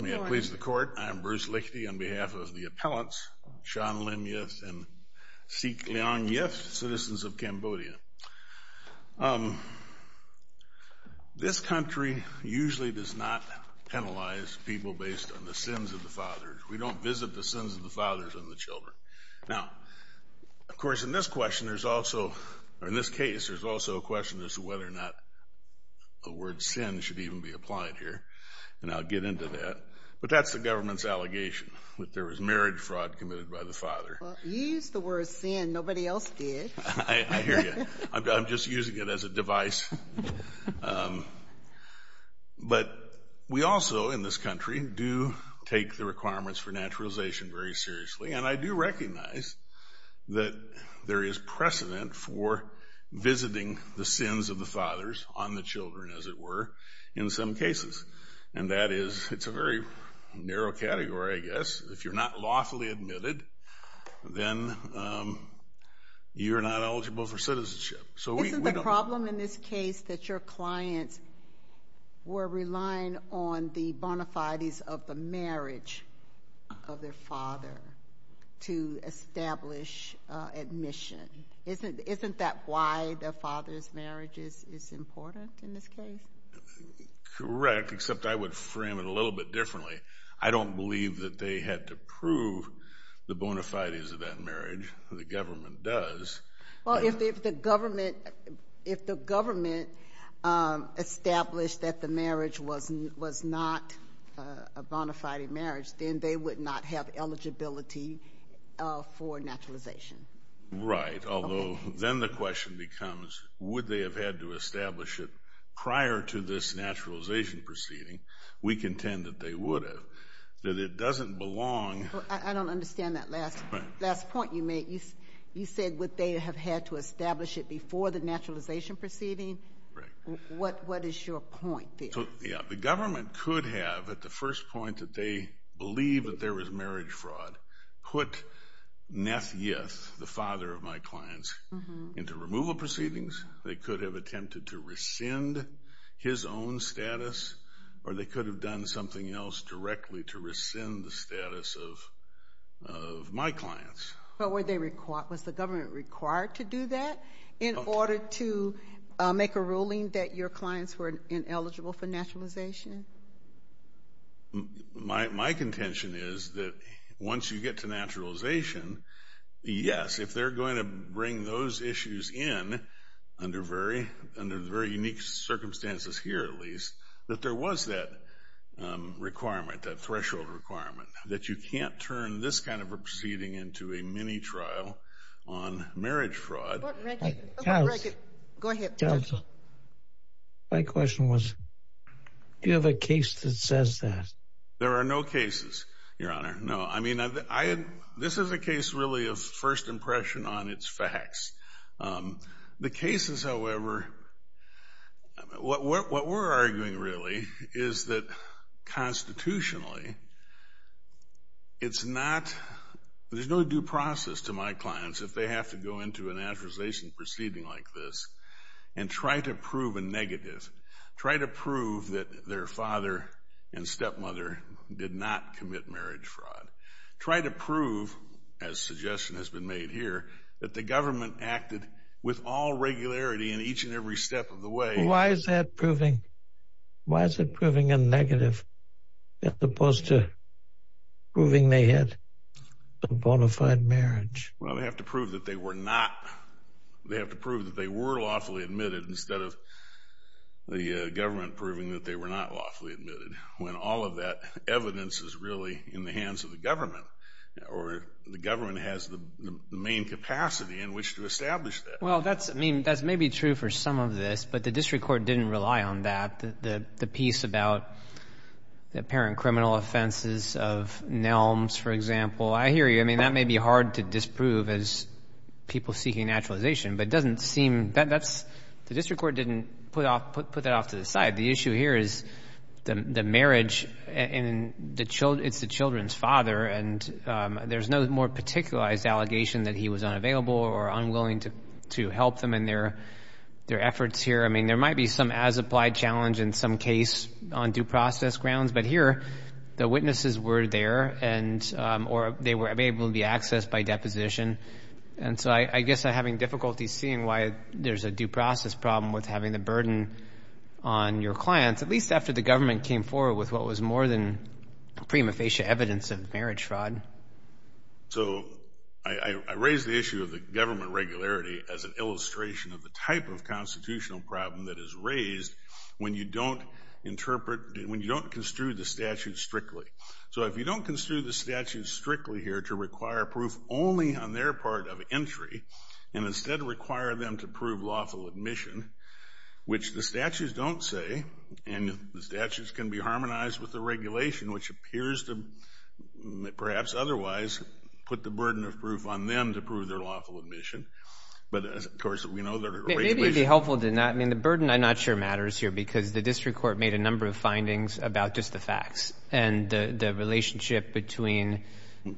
May it please the Court, I am Bruce Lichty on behalf of the appellants Sean Lim Yith and Sik Leong Yith, citizens of Cambodia. This country usually does not penalize people based on the sins of the fathers. We don't visit the sins of the fathers and the children. Now, of course in this question there's also, or in this case there's also a question as to whether or not the word sin should even be applied here. And I'll get into that, but that's the government's allegation that there was marriage fraud committed by the father. Well, you used the word sin, nobody else did. I hear you. I'm just using it as a device. But we also in this country do take the requirements for naturalization very seriously. And I do recognize that there is precedent for visiting the sins of the fathers on the children, as it were, in some cases. And that is, it's a very narrow category, I guess. If you're not lawfully admitted, then you're not eligible for citizenship. Isn't the problem in this case that your clients were relying on the bona fides of the marriage of their father to establish admission? Isn't that why the father's marriage is important in this case? Correct, except I would frame it a little bit differently. I don't believe that they had to prove the bona fides of that marriage. The government does. Well, if the government established that the marriage was not a bona fide marriage, then they would not have eligibility for naturalization. Right, although then the question becomes, would they have had to establish it prior to this naturalization proceeding? We contend that they would have. That it doesn't belong. I don't understand that last point you made. You said would they have had to establish it before the naturalization proceeding? Right. What is your point there? So, yeah, the government could have, at the first point, that they believe that there was marriage fraud, put Nathias, the father of my clients, into removal proceedings. They could have attempted to rescind his own status, or they could have done something else directly to rescind the status of my clients. But was the government required to do that in order to make a ruling that your clients were ineligible for naturalization? My contention is that once you get to naturalization, yes, if they're going to bring those issues in under very unique circumstances here, at least, that there was that requirement, that threshold requirement, that you can't turn this kind of a proceeding into a mini-trial on marriage fraud. Go ahead. Counsel, my question was, do you have a case that says that? There are no cases, Your Honor. No, I mean, this is a case really of first impression on its facts. The cases, however, what we're arguing really is that constitutionally, it's not, there's no due process to my clients if they have to go into a naturalization proceeding like this and try to prove a negative, try to prove that their father and stepmother did not commit marriage fraud, try to prove, as suggestion has been made here, that the government acted with all regularity in each and every step of the way. Why is that proving, why is it proving a negative as opposed to proving they had a bona fide marriage? Well, they have to prove that they were not, they have to prove that they were lawfully admitted instead of the government proving that they were not lawfully admitted. When all of that evidence is really in the hands of the government or the government has the main capacity in which to establish that. Well, that's, I mean, that's maybe true for some of this, but the district court didn't rely on that. The piece about the apparent criminal offenses of Nelms, for example, I hear you. I mean, that may be hard to disprove as people seeking naturalization, but it doesn't seem, that's, the district court didn't put that off to the side. The issue here is the marriage and it's the children's father and there's no more particularized allegation that he was unavailable or unwilling to help them in their efforts here. I mean, there might be some as-applied challenge in some case on due process grounds, but here the witnesses were there and, or they were able to be accessed by deposition. And so I guess I'm having difficulty seeing why there's a due process problem with having the burden on your clients, at least after the government came forward with what was more than prima facie evidence of marriage fraud. So I raised the issue of the government regularity as an illustration of the type of constitutional problem that is raised when you don't interpret, when you don't construe the statute strictly. So if you don't construe the statute strictly here to require proof only on their part of entry and instead require them to prove lawful admission, which the statutes don't say, and the statutes can be harmonized with the regulation, which appears to, perhaps otherwise, put the burden of proof on them to prove their lawful admission. But, of course, we know there are regulations. I mean, the burden I'm not sure matters here because the district court made a number of findings about just the facts and the relationship between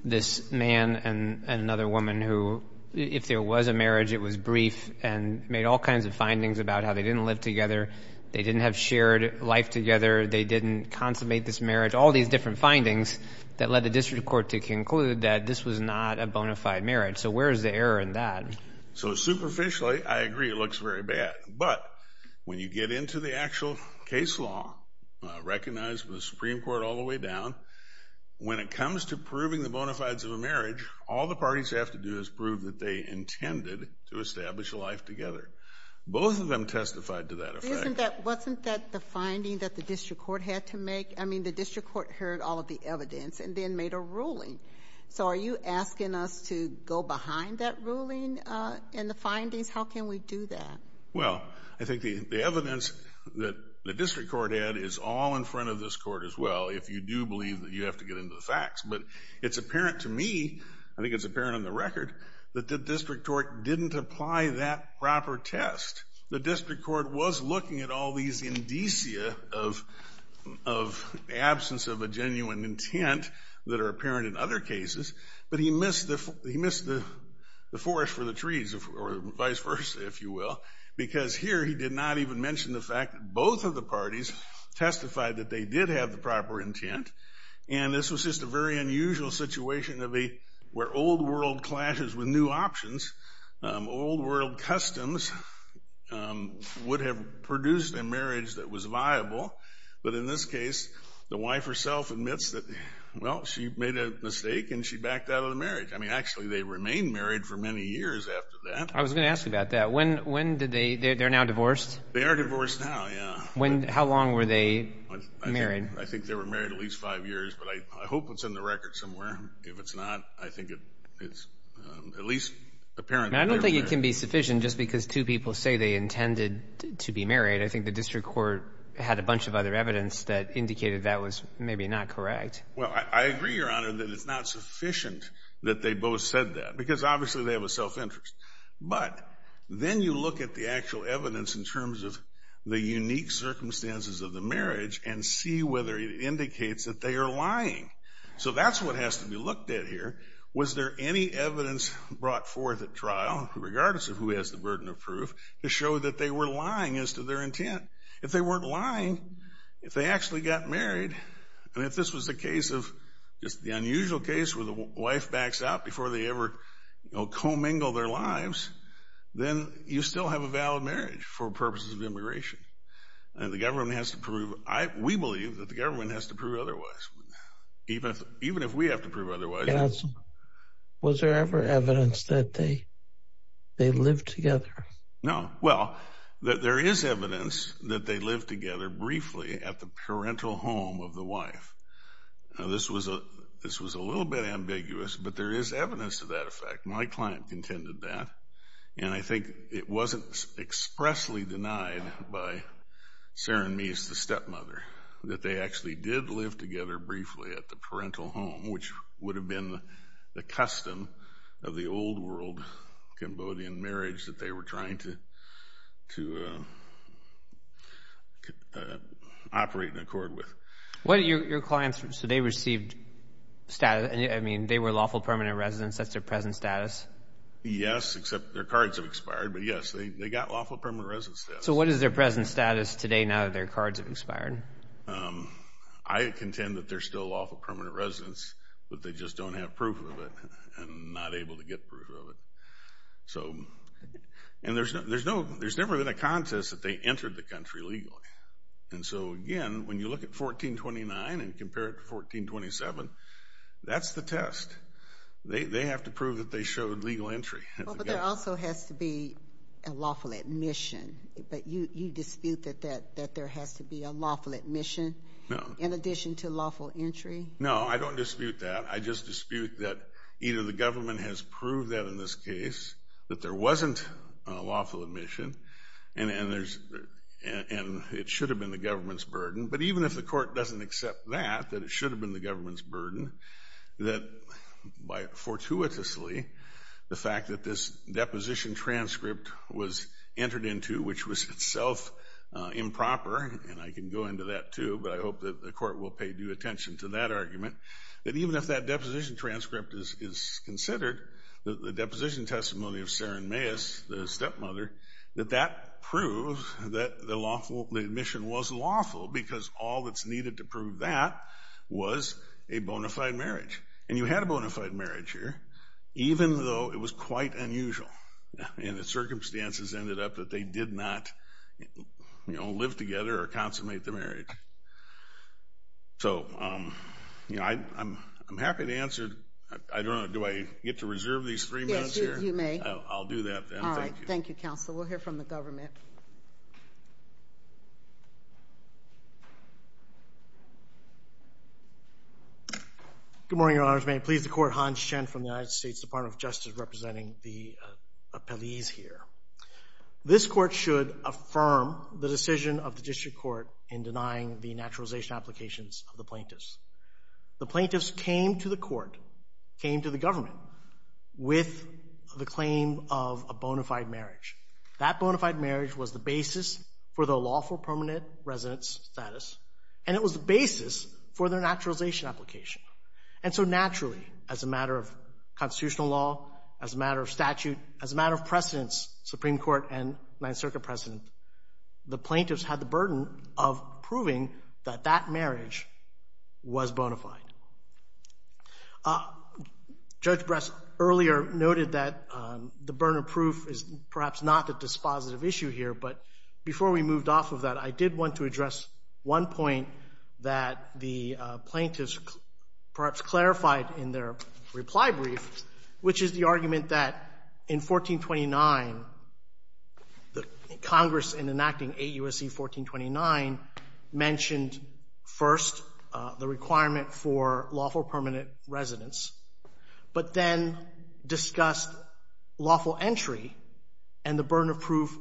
this man and another woman who, if there was a marriage, it was brief and made all kinds of findings about how they didn't live together, they didn't have shared life together, they didn't consummate this marriage, all these different findings that led the district court to conclude that this was not a bona fide marriage. So where is the error in that? So superficially, I agree, it looks very bad. But when you get into the actual case law, recognized by the Supreme Court all the way down, when it comes to proving the bona fides of a marriage, all the parties have to do is prove that they intended to establish a life together. Both of them testified to that effect. Wasn't that the finding that the district court had to make? I mean, the district court heard all of the evidence and then made a ruling. So are you asking us to go behind that ruling and the findings? How can we do that? Well, I think the evidence that the district court had is all in front of this court as well if you do believe that you have to get into the facts. But it's apparent to me, I think it's apparent on the record, that the district court didn't apply that proper test. The district court was looking at all these indicia of absence of a genuine intent that are apparent in other cases, but he missed the forest for the trees or vice versa, if you will, because here he did not even mention the fact that both of the parties testified that they did have the proper intent. And this was just a very unusual situation where old world clashes with new options, old world customs would have produced a marriage that was viable. But in this case, the wife herself admits that, well, she made a mistake and she backed out of the marriage. I mean, actually, they remained married for many years after that. I was going to ask you about that. When did they – they're now divorced? They are divorced now, yeah. How long were they married? I think they were married at least five years, but I hope it's in the record somewhere. If it's not, I think it's at least apparent that they were married. I don't think it can be sufficient just because two people say they intended to be married. I think the district court had a bunch of other evidence that indicated that was maybe not correct. Well, I agree, Your Honor, that it's not sufficient that they both said that because obviously they have a self-interest. But then you look at the actual evidence in terms of the unique circumstances of the marriage and see whether it indicates that they are lying. So that's what has to be looked at here. Was there any evidence brought forth at trial, regardless of who has the burden of proof, to show that they were lying as to their intent? If they weren't lying, if they actually got married, and if this was the case of just the unusual case where the wife backs out before they ever, you know, commingle their lives, then you still have a valid marriage for purposes of immigration. And the government has to prove – we believe that the government has to prove otherwise. Even if we have to prove otherwise. Counsel, was there ever evidence that they lived together? No. Well, there is evidence that they lived together briefly at the parental home of the wife. Now, this was a little bit ambiguous, but there is evidence to that effect. My client contended that. And I think it wasn't expressly denied by Saron Meese, the stepmother, that they actually did live together briefly at the parental home, which would have been the custom of the old-world Cambodian marriage that they were trying to operate in accord with. So they received status – I mean, they were lawful permanent residents. That's their present status? Yes, except their cards have expired. But, yes, they got lawful permanent residence status. So what is their present status today now that their cards have expired? I contend that they're still lawful permanent residents, but they just don't have proof of it and not able to get proof of it. And there's never been a contest that they entered the country legally. And so, again, when you look at 1429 and compare it to 1427, that's the test. They have to prove that they showed legal entry. But there also has to be a lawful admission. But you dispute that there has to be a lawful admission in addition to lawful entry? No, I don't dispute that. I just dispute that either the government has proved that in this case, that there wasn't a lawful admission, and it should have been the government's burden. But even if the court doesn't accept that, that it should have been the government's burden, that fortuitously the fact that this deposition transcript was entered into, which was itself improper, and I can go into that too, but I hope that the court will pay due attention to that argument, that even if that deposition transcript is considered, the deposition testimony of Saren Meis, the stepmother, that that proves that the admission was lawful because all that's needed to prove that was a bona fide marriage. And you had a bona fide marriage here, even though it was quite unusual, and the circumstances ended up that they did not live together or consummate the marriage. So I'm happy to answer. I don't know. Do I get to reserve these three minutes here? Yes, you may. I'll do that then. Thank you. All right. Thank you, counsel. We'll hear from the government. Good morning, Your Honors. May it please the court, Hans Chen from the United States Department of Justice representing the appellees here. This court should affirm the decision of the district court in denying the naturalization applications of the plaintiffs. The plaintiffs came to the court, came to the government, with the claim of a bona fide marriage. That bona fide marriage was the basis for their lawful permanent residence status, and it was the basis for their naturalization application. And so naturally, as a matter of constitutional law, as a matter of statute, as a matter of precedence, Supreme Court and Ninth Circuit precedent, the plaintiffs had the burden of proving that that marriage was bona fide. Judge Bress earlier noted that the burden of proof is perhaps not a dispositive issue here, but before we moved off of that, I did want to address one point that the plaintiffs perhaps clarified in their reply brief, which is the argument that in 1429, Congress, in enacting 8 U.S.C. 1429, mentioned first the requirement for lawful permanent residence, but then discussed lawful entry and the burden of proof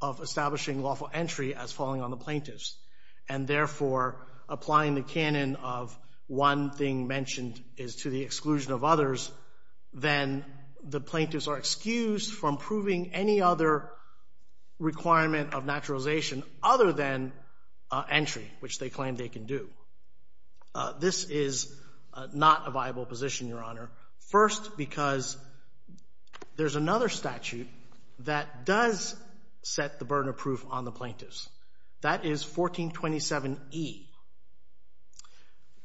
of establishing lawful entry as falling on the plaintiffs, and therefore applying the canon of one thing mentioned is to the exclusion of others, then the plaintiffs are excused from proving any other requirement of naturalization other than entry, which they claim they can do. This is not a viable position, Your Honor, first because there's another statute that does set the burden of proof on the plaintiffs. That is 1427E.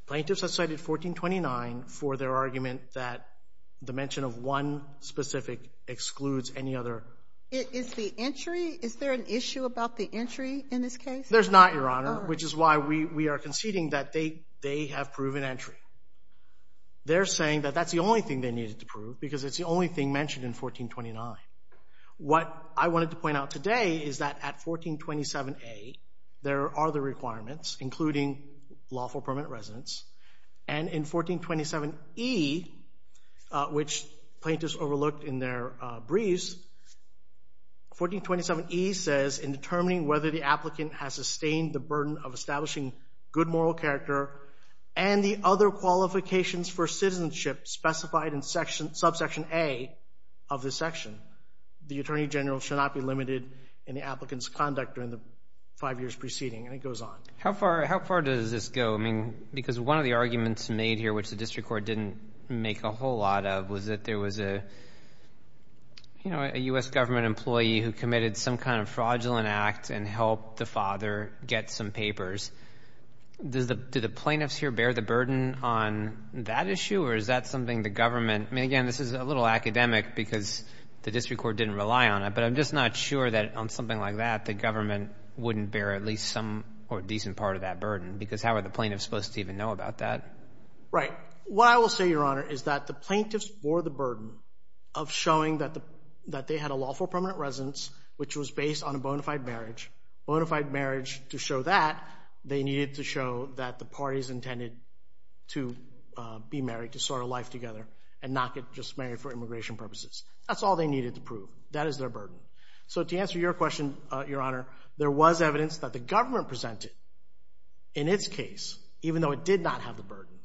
Plaintiffs have cited 1429 for their argument that the mention of one specific excludes any other. Is the entry, is there an issue about the entry in this case? There's not, Your Honor, which is why we are conceding that they have proven entry. They're saying that that's the only thing they needed to prove because it's the only thing mentioned in 1429. What I wanted to point out today is that at 1427A, there are the requirements, including lawful permanent residence, and in 1427E, which plaintiffs overlooked in their briefs, 1427E says, in determining whether the applicant has sustained the burden of establishing good moral character and the other qualifications for citizenship specified in subsection A of this section, the attorney general should not be limited in the applicant's conduct during the five years preceding. And it goes on. How far does this go? I mean, because one of the arguments made here, which the district court didn't make a whole lot of, was that there was a, you know, a U.S. government employee who committed some kind of fraudulent act and helped the father get some papers. Do the plaintiffs here bear the burden on that issue, or is that something the government I mean, again, this is a little academic because the district court didn't rely on it, but I'm just not sure that on something like that the government wouldn't bear at least some or a decent part of that burden because how are the plaintiffs supposed to even know about that? Right. What I will say, Your Honor, is that the plaintiffs bore the burden of showing that they had a lawful permanent residence, which was based on a bona fide marriage. Bona fide marriage, to show that, they needed to show that the parties intended to be married, to start a life together, and not get just married for immigration purposes. That's all they needed to prove. That is their burden. So to answer your question, Your Honor, there was evidence that the government presented in its case, even though it did not have the burden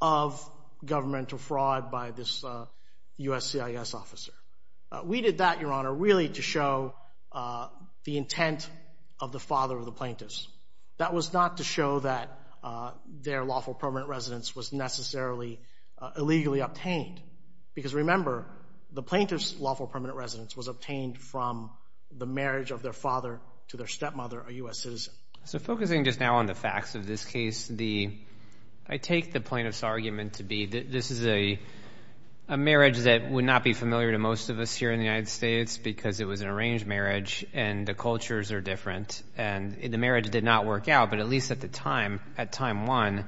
of governmental fraud by this U.S. CIS officer. We did that, Your Honor, really to show the intent of the father of the plaintiffs. That was not to show that their lawful permanent residence was necessarily illegally obtained because remember, the plaintiff's lawful permanent residence was obtained from the marriage of their father to their stepmother, a U.S. citizen. So focusing just now on the facts of this case, I take the plaintiff's argument to be that this is a marriage that would not be familiar to most of us here in the United States because it was an arranged marriage and the cultures are different. The marriage did not work out, but at least at the time, at time one,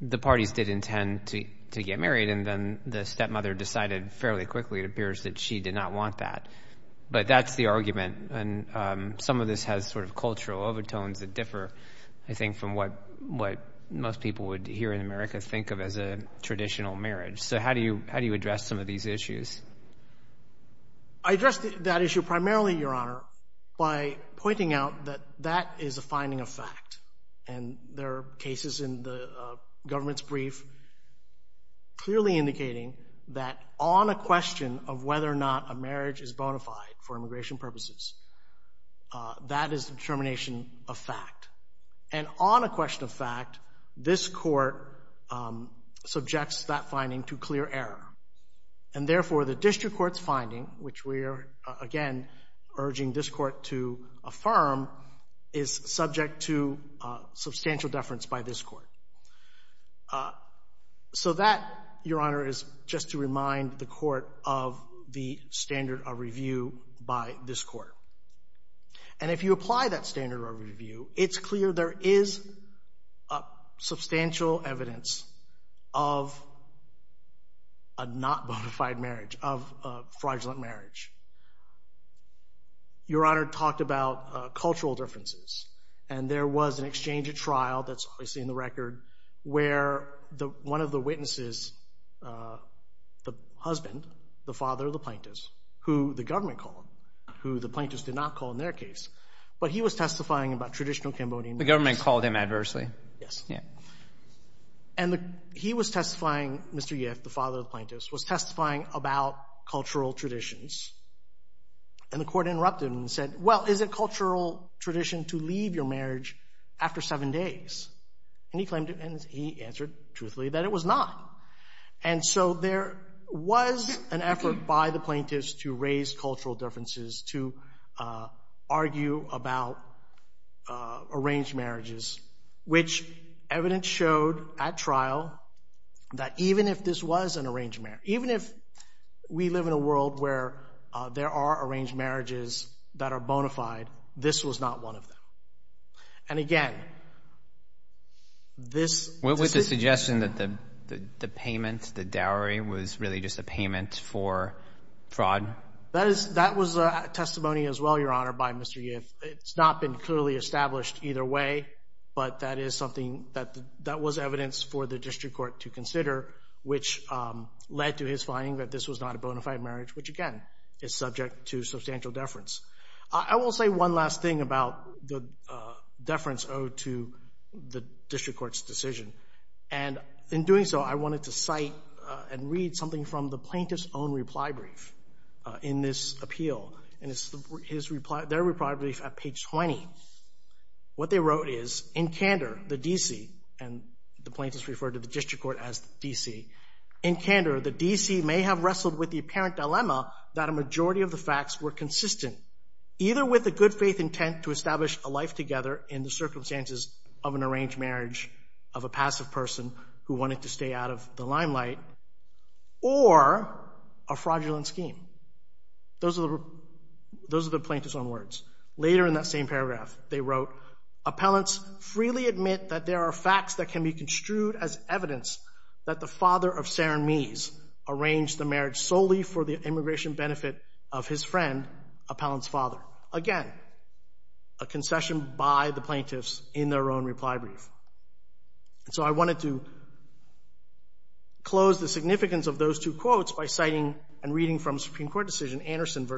the parties did intend to get married, and then the stepmother decided fairly quickly, it appears, that she did not want that. But that's the argument. Some of this has sort of cultural overtones that differ, I think, from what most people here in America think of as a traditional marriage. So how do you address some of these issues? I address that issue primarily, Your Honor, by pointing out that that is a finding of fact, and there are cases in the government's brief clearly indicating that on a question of whether or not a marriage is bona fide for immigration purposes, that is the determination of fact. And on a question of fact, this court subjects that finding to clear error. And therefore, the district court's finding, which we are, again, urging this court to affirm, is subject to substantial deference by this court. So that, Your Honor, is just to remind the court of the standard of review by this court. And if you apply that standard of review, it's clear there is substantial evidence of a not bona fide marriage, of a fraudulent marriage. Your Honor talked about cultural differences, and there was an exchange at trial, that's obviously in the record, where one of the witnesses, the husband, the father of the plaintiff, who the government called, who the plaintiffs did not call in their case, but he was testifying about traditional Cambodian marriage. The government called him adversely? Yes. Yeah. And he was testifying, Mr. Yip, the father of the plaintiffs, was testifying about cultural traditions, and the court interrupted him and said, well, is it cultural tradition to leave your marriage after seven days? And he answered truthfully that it was not. And so there was an effort by the plaintiffs to raise cultural differences, to argue about arranged marriages, which evidence showed at trial that even if this was an arranged marriage, even if we live in a world where there are arranged marriages that are bona fide, this was not one of them. And again, this decision — What was the suggestion that the payment, the dowry, was really just a payment for fraud? That was a testimony as well, Your Honor, by Mr. Yip. It's not been clearly established either way, but that is something that was evidence for the district court to consider, which led to his finding that this was not a bona fide marriage, which, again, is subject to substantial deference. I will say one last thing about the deference owed to the district court's decision. And in doing so, I wanted to cite and read something from the plaintiff's own reply brief in this appeal. And it's their reply brief at page 20. What they wrote is, in candor, the D.C. And the plaintiffs referred to the district court as the D.C. In candor, the D.C. may have wrestled with the apparent dilemma that a majority of the facts were consistent, either with a good faith intent to establish a life together in the circumstances of an arranged marriage, of a passive person who wanted to stay out of the limelight, or a fraudulent scheme. Those are the plaintiffs' own words. Later in that same paragraph, they wrote, Appellants freely admit that there are facts that can be construed as evidence that the father of Sarah Meese arranged the marriage solely for the immigration benefit of his friend, appellant's father. Again, a concession by the plaintiffs in their own reply brief. And so I wanted to close the significance of those two quotes by citing and reading from a Supreme Court decision, Anderson v.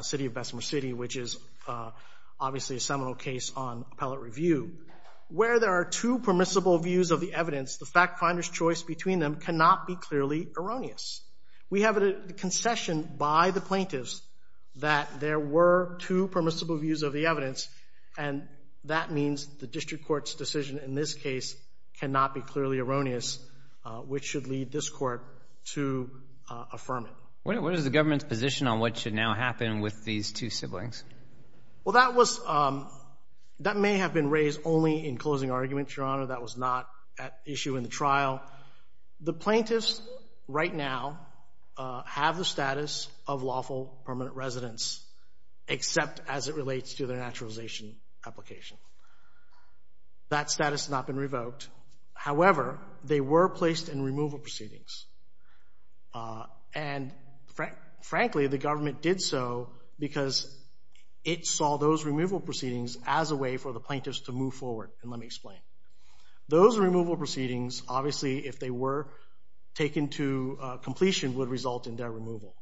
City of Bessemer City, which is obviously a seminal case on appellate review. Where there are two permissible views of the evidence, the fact finder's choice between them cannot be clearly erroneous. We have a concession by the plaintiffs that there were two permissible views of the evidence, and that means the district court's decision in this case cannot be clearly erroneous, which should lead this court to affirm it. What is the government's position on what should now happen with these two siblings? Well, that may have been raised only in closing arguments, Your Honor. That was not at issue in the trial. The plaintiffs right now have the status of lawful permanent residents except as it relates to their naturalization application. That status has not been revoked. However, they were placed in removal proceedings. And frankly, the government did so because it saw those removal proceedings as a way for the plaintiffs to move forward. And let me explain. Those removal proceedings, obviously, if they were taken to completion, would result in their removal.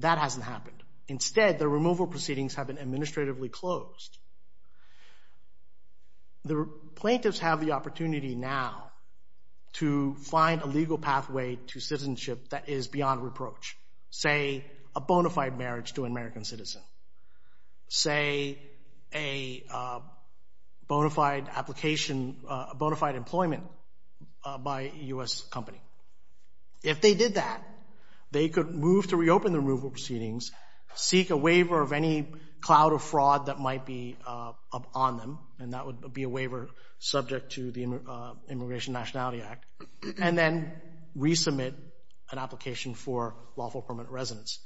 That hasn't happened. Instead, the removal proceedings have been administratively closed. The plaintiffs have the opportunity now to find a legal pathway to citizenship that is beyond reproach, say, a bona fide marriage to an American citizen, say, a bona fide employment by a U.S. company. If they did that, they could move to reopen the removal proceedings, seek a waiver of any cloud of fraud that might be on them, and that would be a waiver subject to the Immigration Nationality Act, and then resubmit an application for lawful permanent residence.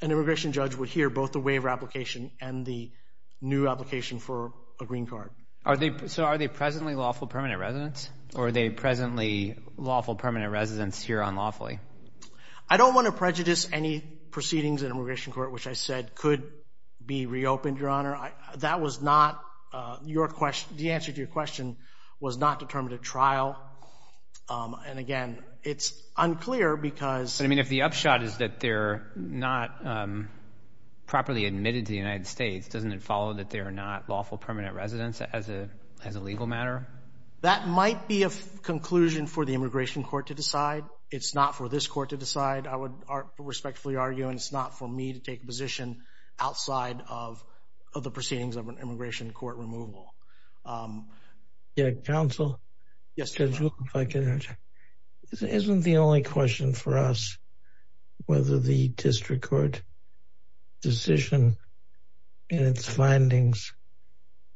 An immigration judge would hear both the waiver application and the new application for a green card. So are they presently lawful permanent residents, or are they presently lawful permanent residents here unlawfully? I don't want to prejudice any proceedings in immigration court, which I said could be reopened, Your Honor. That was not your question. The answer to your question was not determined at trial. And, again, it's unclear because — I mean, if the upshot is that they're not properly admitted to the United States, doesn't it follow that they're not lawful permanent residents as a legal matter? That might be a conclusion for the immigration court to decide. It's not for this court to decide, I would respectfully argue, and it's not for me to take a position outside of the proceedings of an immigration court removal. Counsel? Yes, Your Honor. Isn't the only question for us whether the district court decision in its findings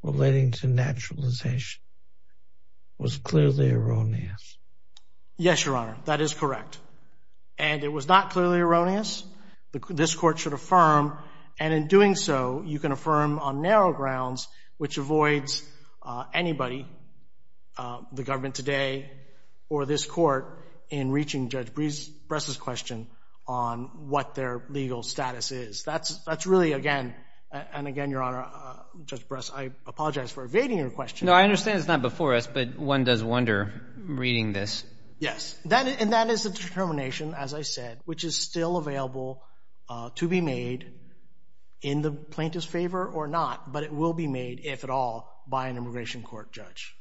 relating to naturalization was clearly erroneous? Yes, Your Honor, that is correct. And it was not clearly erroneous. This court should affirm, and in doing so, you can affirm on narrow grounds, which avoids anybody, the government today or this court, in reaching Judge Bress's question on what their legal status is. That's really, again, and again, Your Honor, Judge Bress, I apologize for evading your question. No, I understand it's not before us, but one does wonder reading this. Yes, and that is the determination, as I said, which is still available to be made in the plaintiff's favor or not, but it will be made, if at all, by an immigration court judge.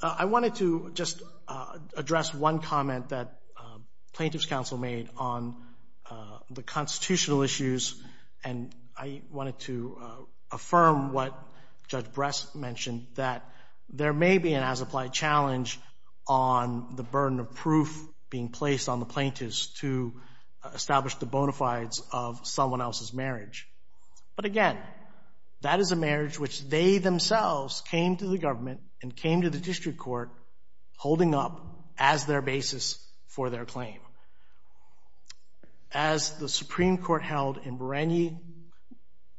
I wanted to just address one comment that plaintiff's counsel made on the constitutional issues, and I wanted to affirm what Judge Bress mentioned, that there may be an as-applied challenge on the burden of proof being placed on the plaintiffs to establish the bona fides of someone else's marriage. But again, that is a marriage which they themselves came to the government and came to the district court holding up as their basis for their claim. As the Supreme Court held in Barangay,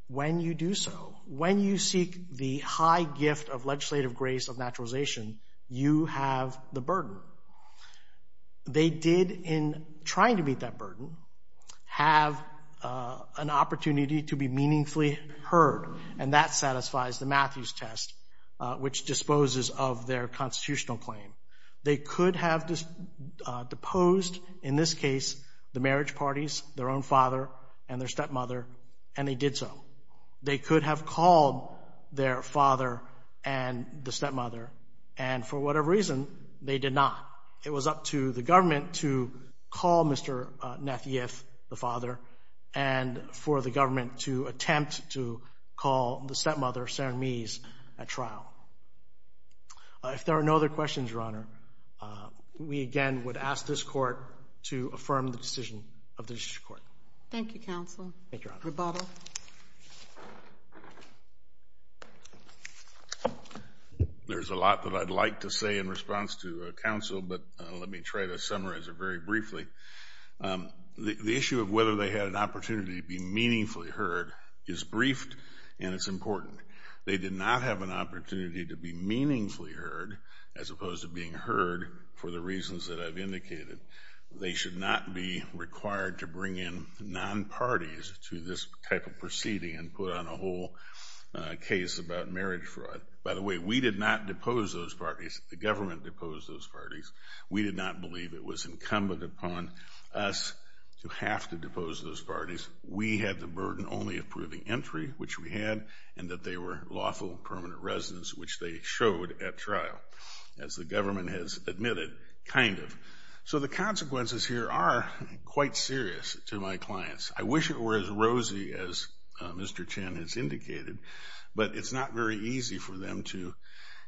when you do so, when you seek the high gift of legislative grace of naturalization, you have the burden. They did, in trying to meet that burden, have an opportunity to be meaningfully heard, and that satisfies the Matthews test, which disposes of their constitutional claim. They could have deposed, in this case, the marriage parties, their own father and their stepmother, and they did so. They could have called their father and the stepmother, and for whatever reason, they did not. It was up to the government to call Mr. Nathieff, the father, and for the government to attempt to call the stepmother, Sarah Mies, at trial. If there are no other questions, Your Honor, we again would ask this Court to affirm the decision of the district court. Thank you, Counsel. Thank you, Your Honor. Your bottle. There's a lot that I'd like to say in response to counsel, but let me try to summarize it very briefly. The issue of whether they had an opportunity to be meaningfully heard is briefed, and it's important. They did not have an opportunity to be meaningfully heard, as opposed to being heard for the reasons that I've indicated. They should not be required to bring in non-parties to this type of proceeding and put on a whole case about marriage fraud. By the way, we did not depose those parties. The government deposed those parties. We did not believe it was incumbent upon us to have to depose those parties. We had the burden only of proving entry, which we had, and that they were lawful permanent residents, which they showed at trial, as the government has admitted, kind of. So the consequences here are quite serious to my clients. I wish it were as rosy as Mr. Chen has indicated, but it's not very easy for them to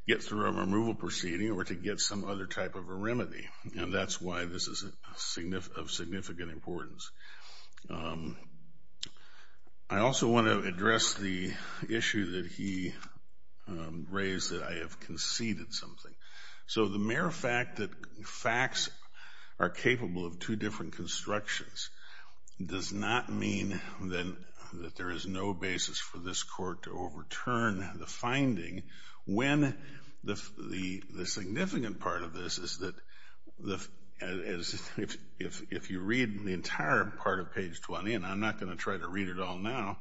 get through a removal proceeding or to get some other type of a remedy, and that's why this is of significant importance. I also want to address the issue that he raised, that I have conceded something. So the mere fact that facts are capable of two different constructions does not mean that there is no basis for this court to overturn the finding when the significant part of this is that if you read the entire part of page 20, and I'm not going to try to read it all now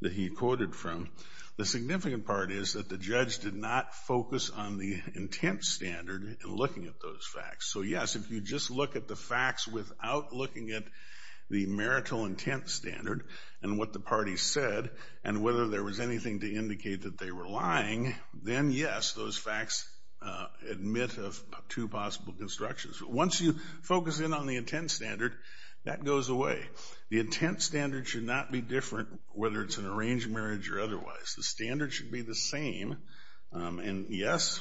that he quoted from, the significant part is that the judge did not focus on the intent standard in looking at those facts. So, yes, if you just look at the facts without looking at the marital intent standard and what the parties said and whether there was anything to indicate that they were lying, then, yes, those facts admit of two possible constructions. But once you focus in on the intent standard, that goes away. The intent standard should not be different whether it's an arranged marriage or otherwise. The standard should be the same. And, yes,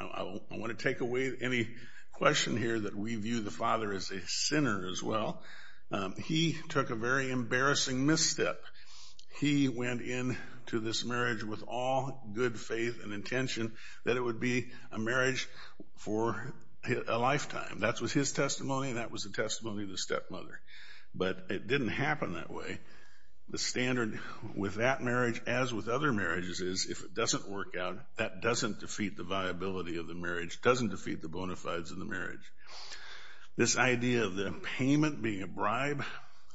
I want to take away any question here that we view the father as a sinner as well. He took a very embarrassing misstep. He went into this marriage with all good faith and intention that it would be a marriage for a lifetime. That was his testimony and that was the testimony of the stepmother. But it didn't happen that way. The standard with that marriage, as with other marriages, is if it doesn't work out, that doesn't defeat the viability of the marriage, doesn't defeat the bona fides of the marriage. This idea of the payment being a bribe,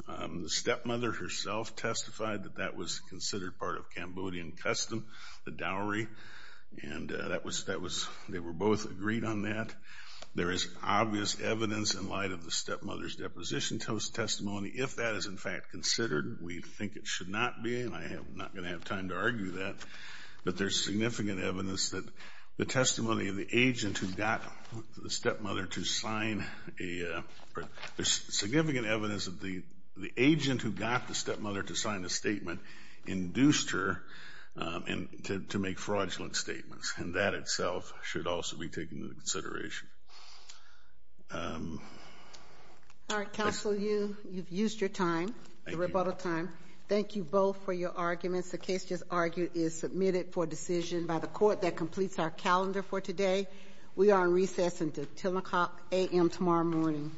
the stepmother herself testified that that was considered part of Cambodian custom, the dowry, and they were both agreed on that. There is obvious evidence in light of the stepmother's deposition testimony. If that is, in fact, considered, we think it should not be, and I'm not going to have time to argue that. But there's significant evidence that the testimony of the agent who got the stepmother to sign a statement induced her to make fraudulent statements, and that itself should also be taken into consideration. All right, counsel, you've used your time, the rebuttal time. Thank you both for your arguments. The case just argued is submitted for decision by the court that completes our calendar for today. We are in recess until 10 o'clock a.m. tomorrow morning.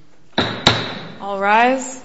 All rise.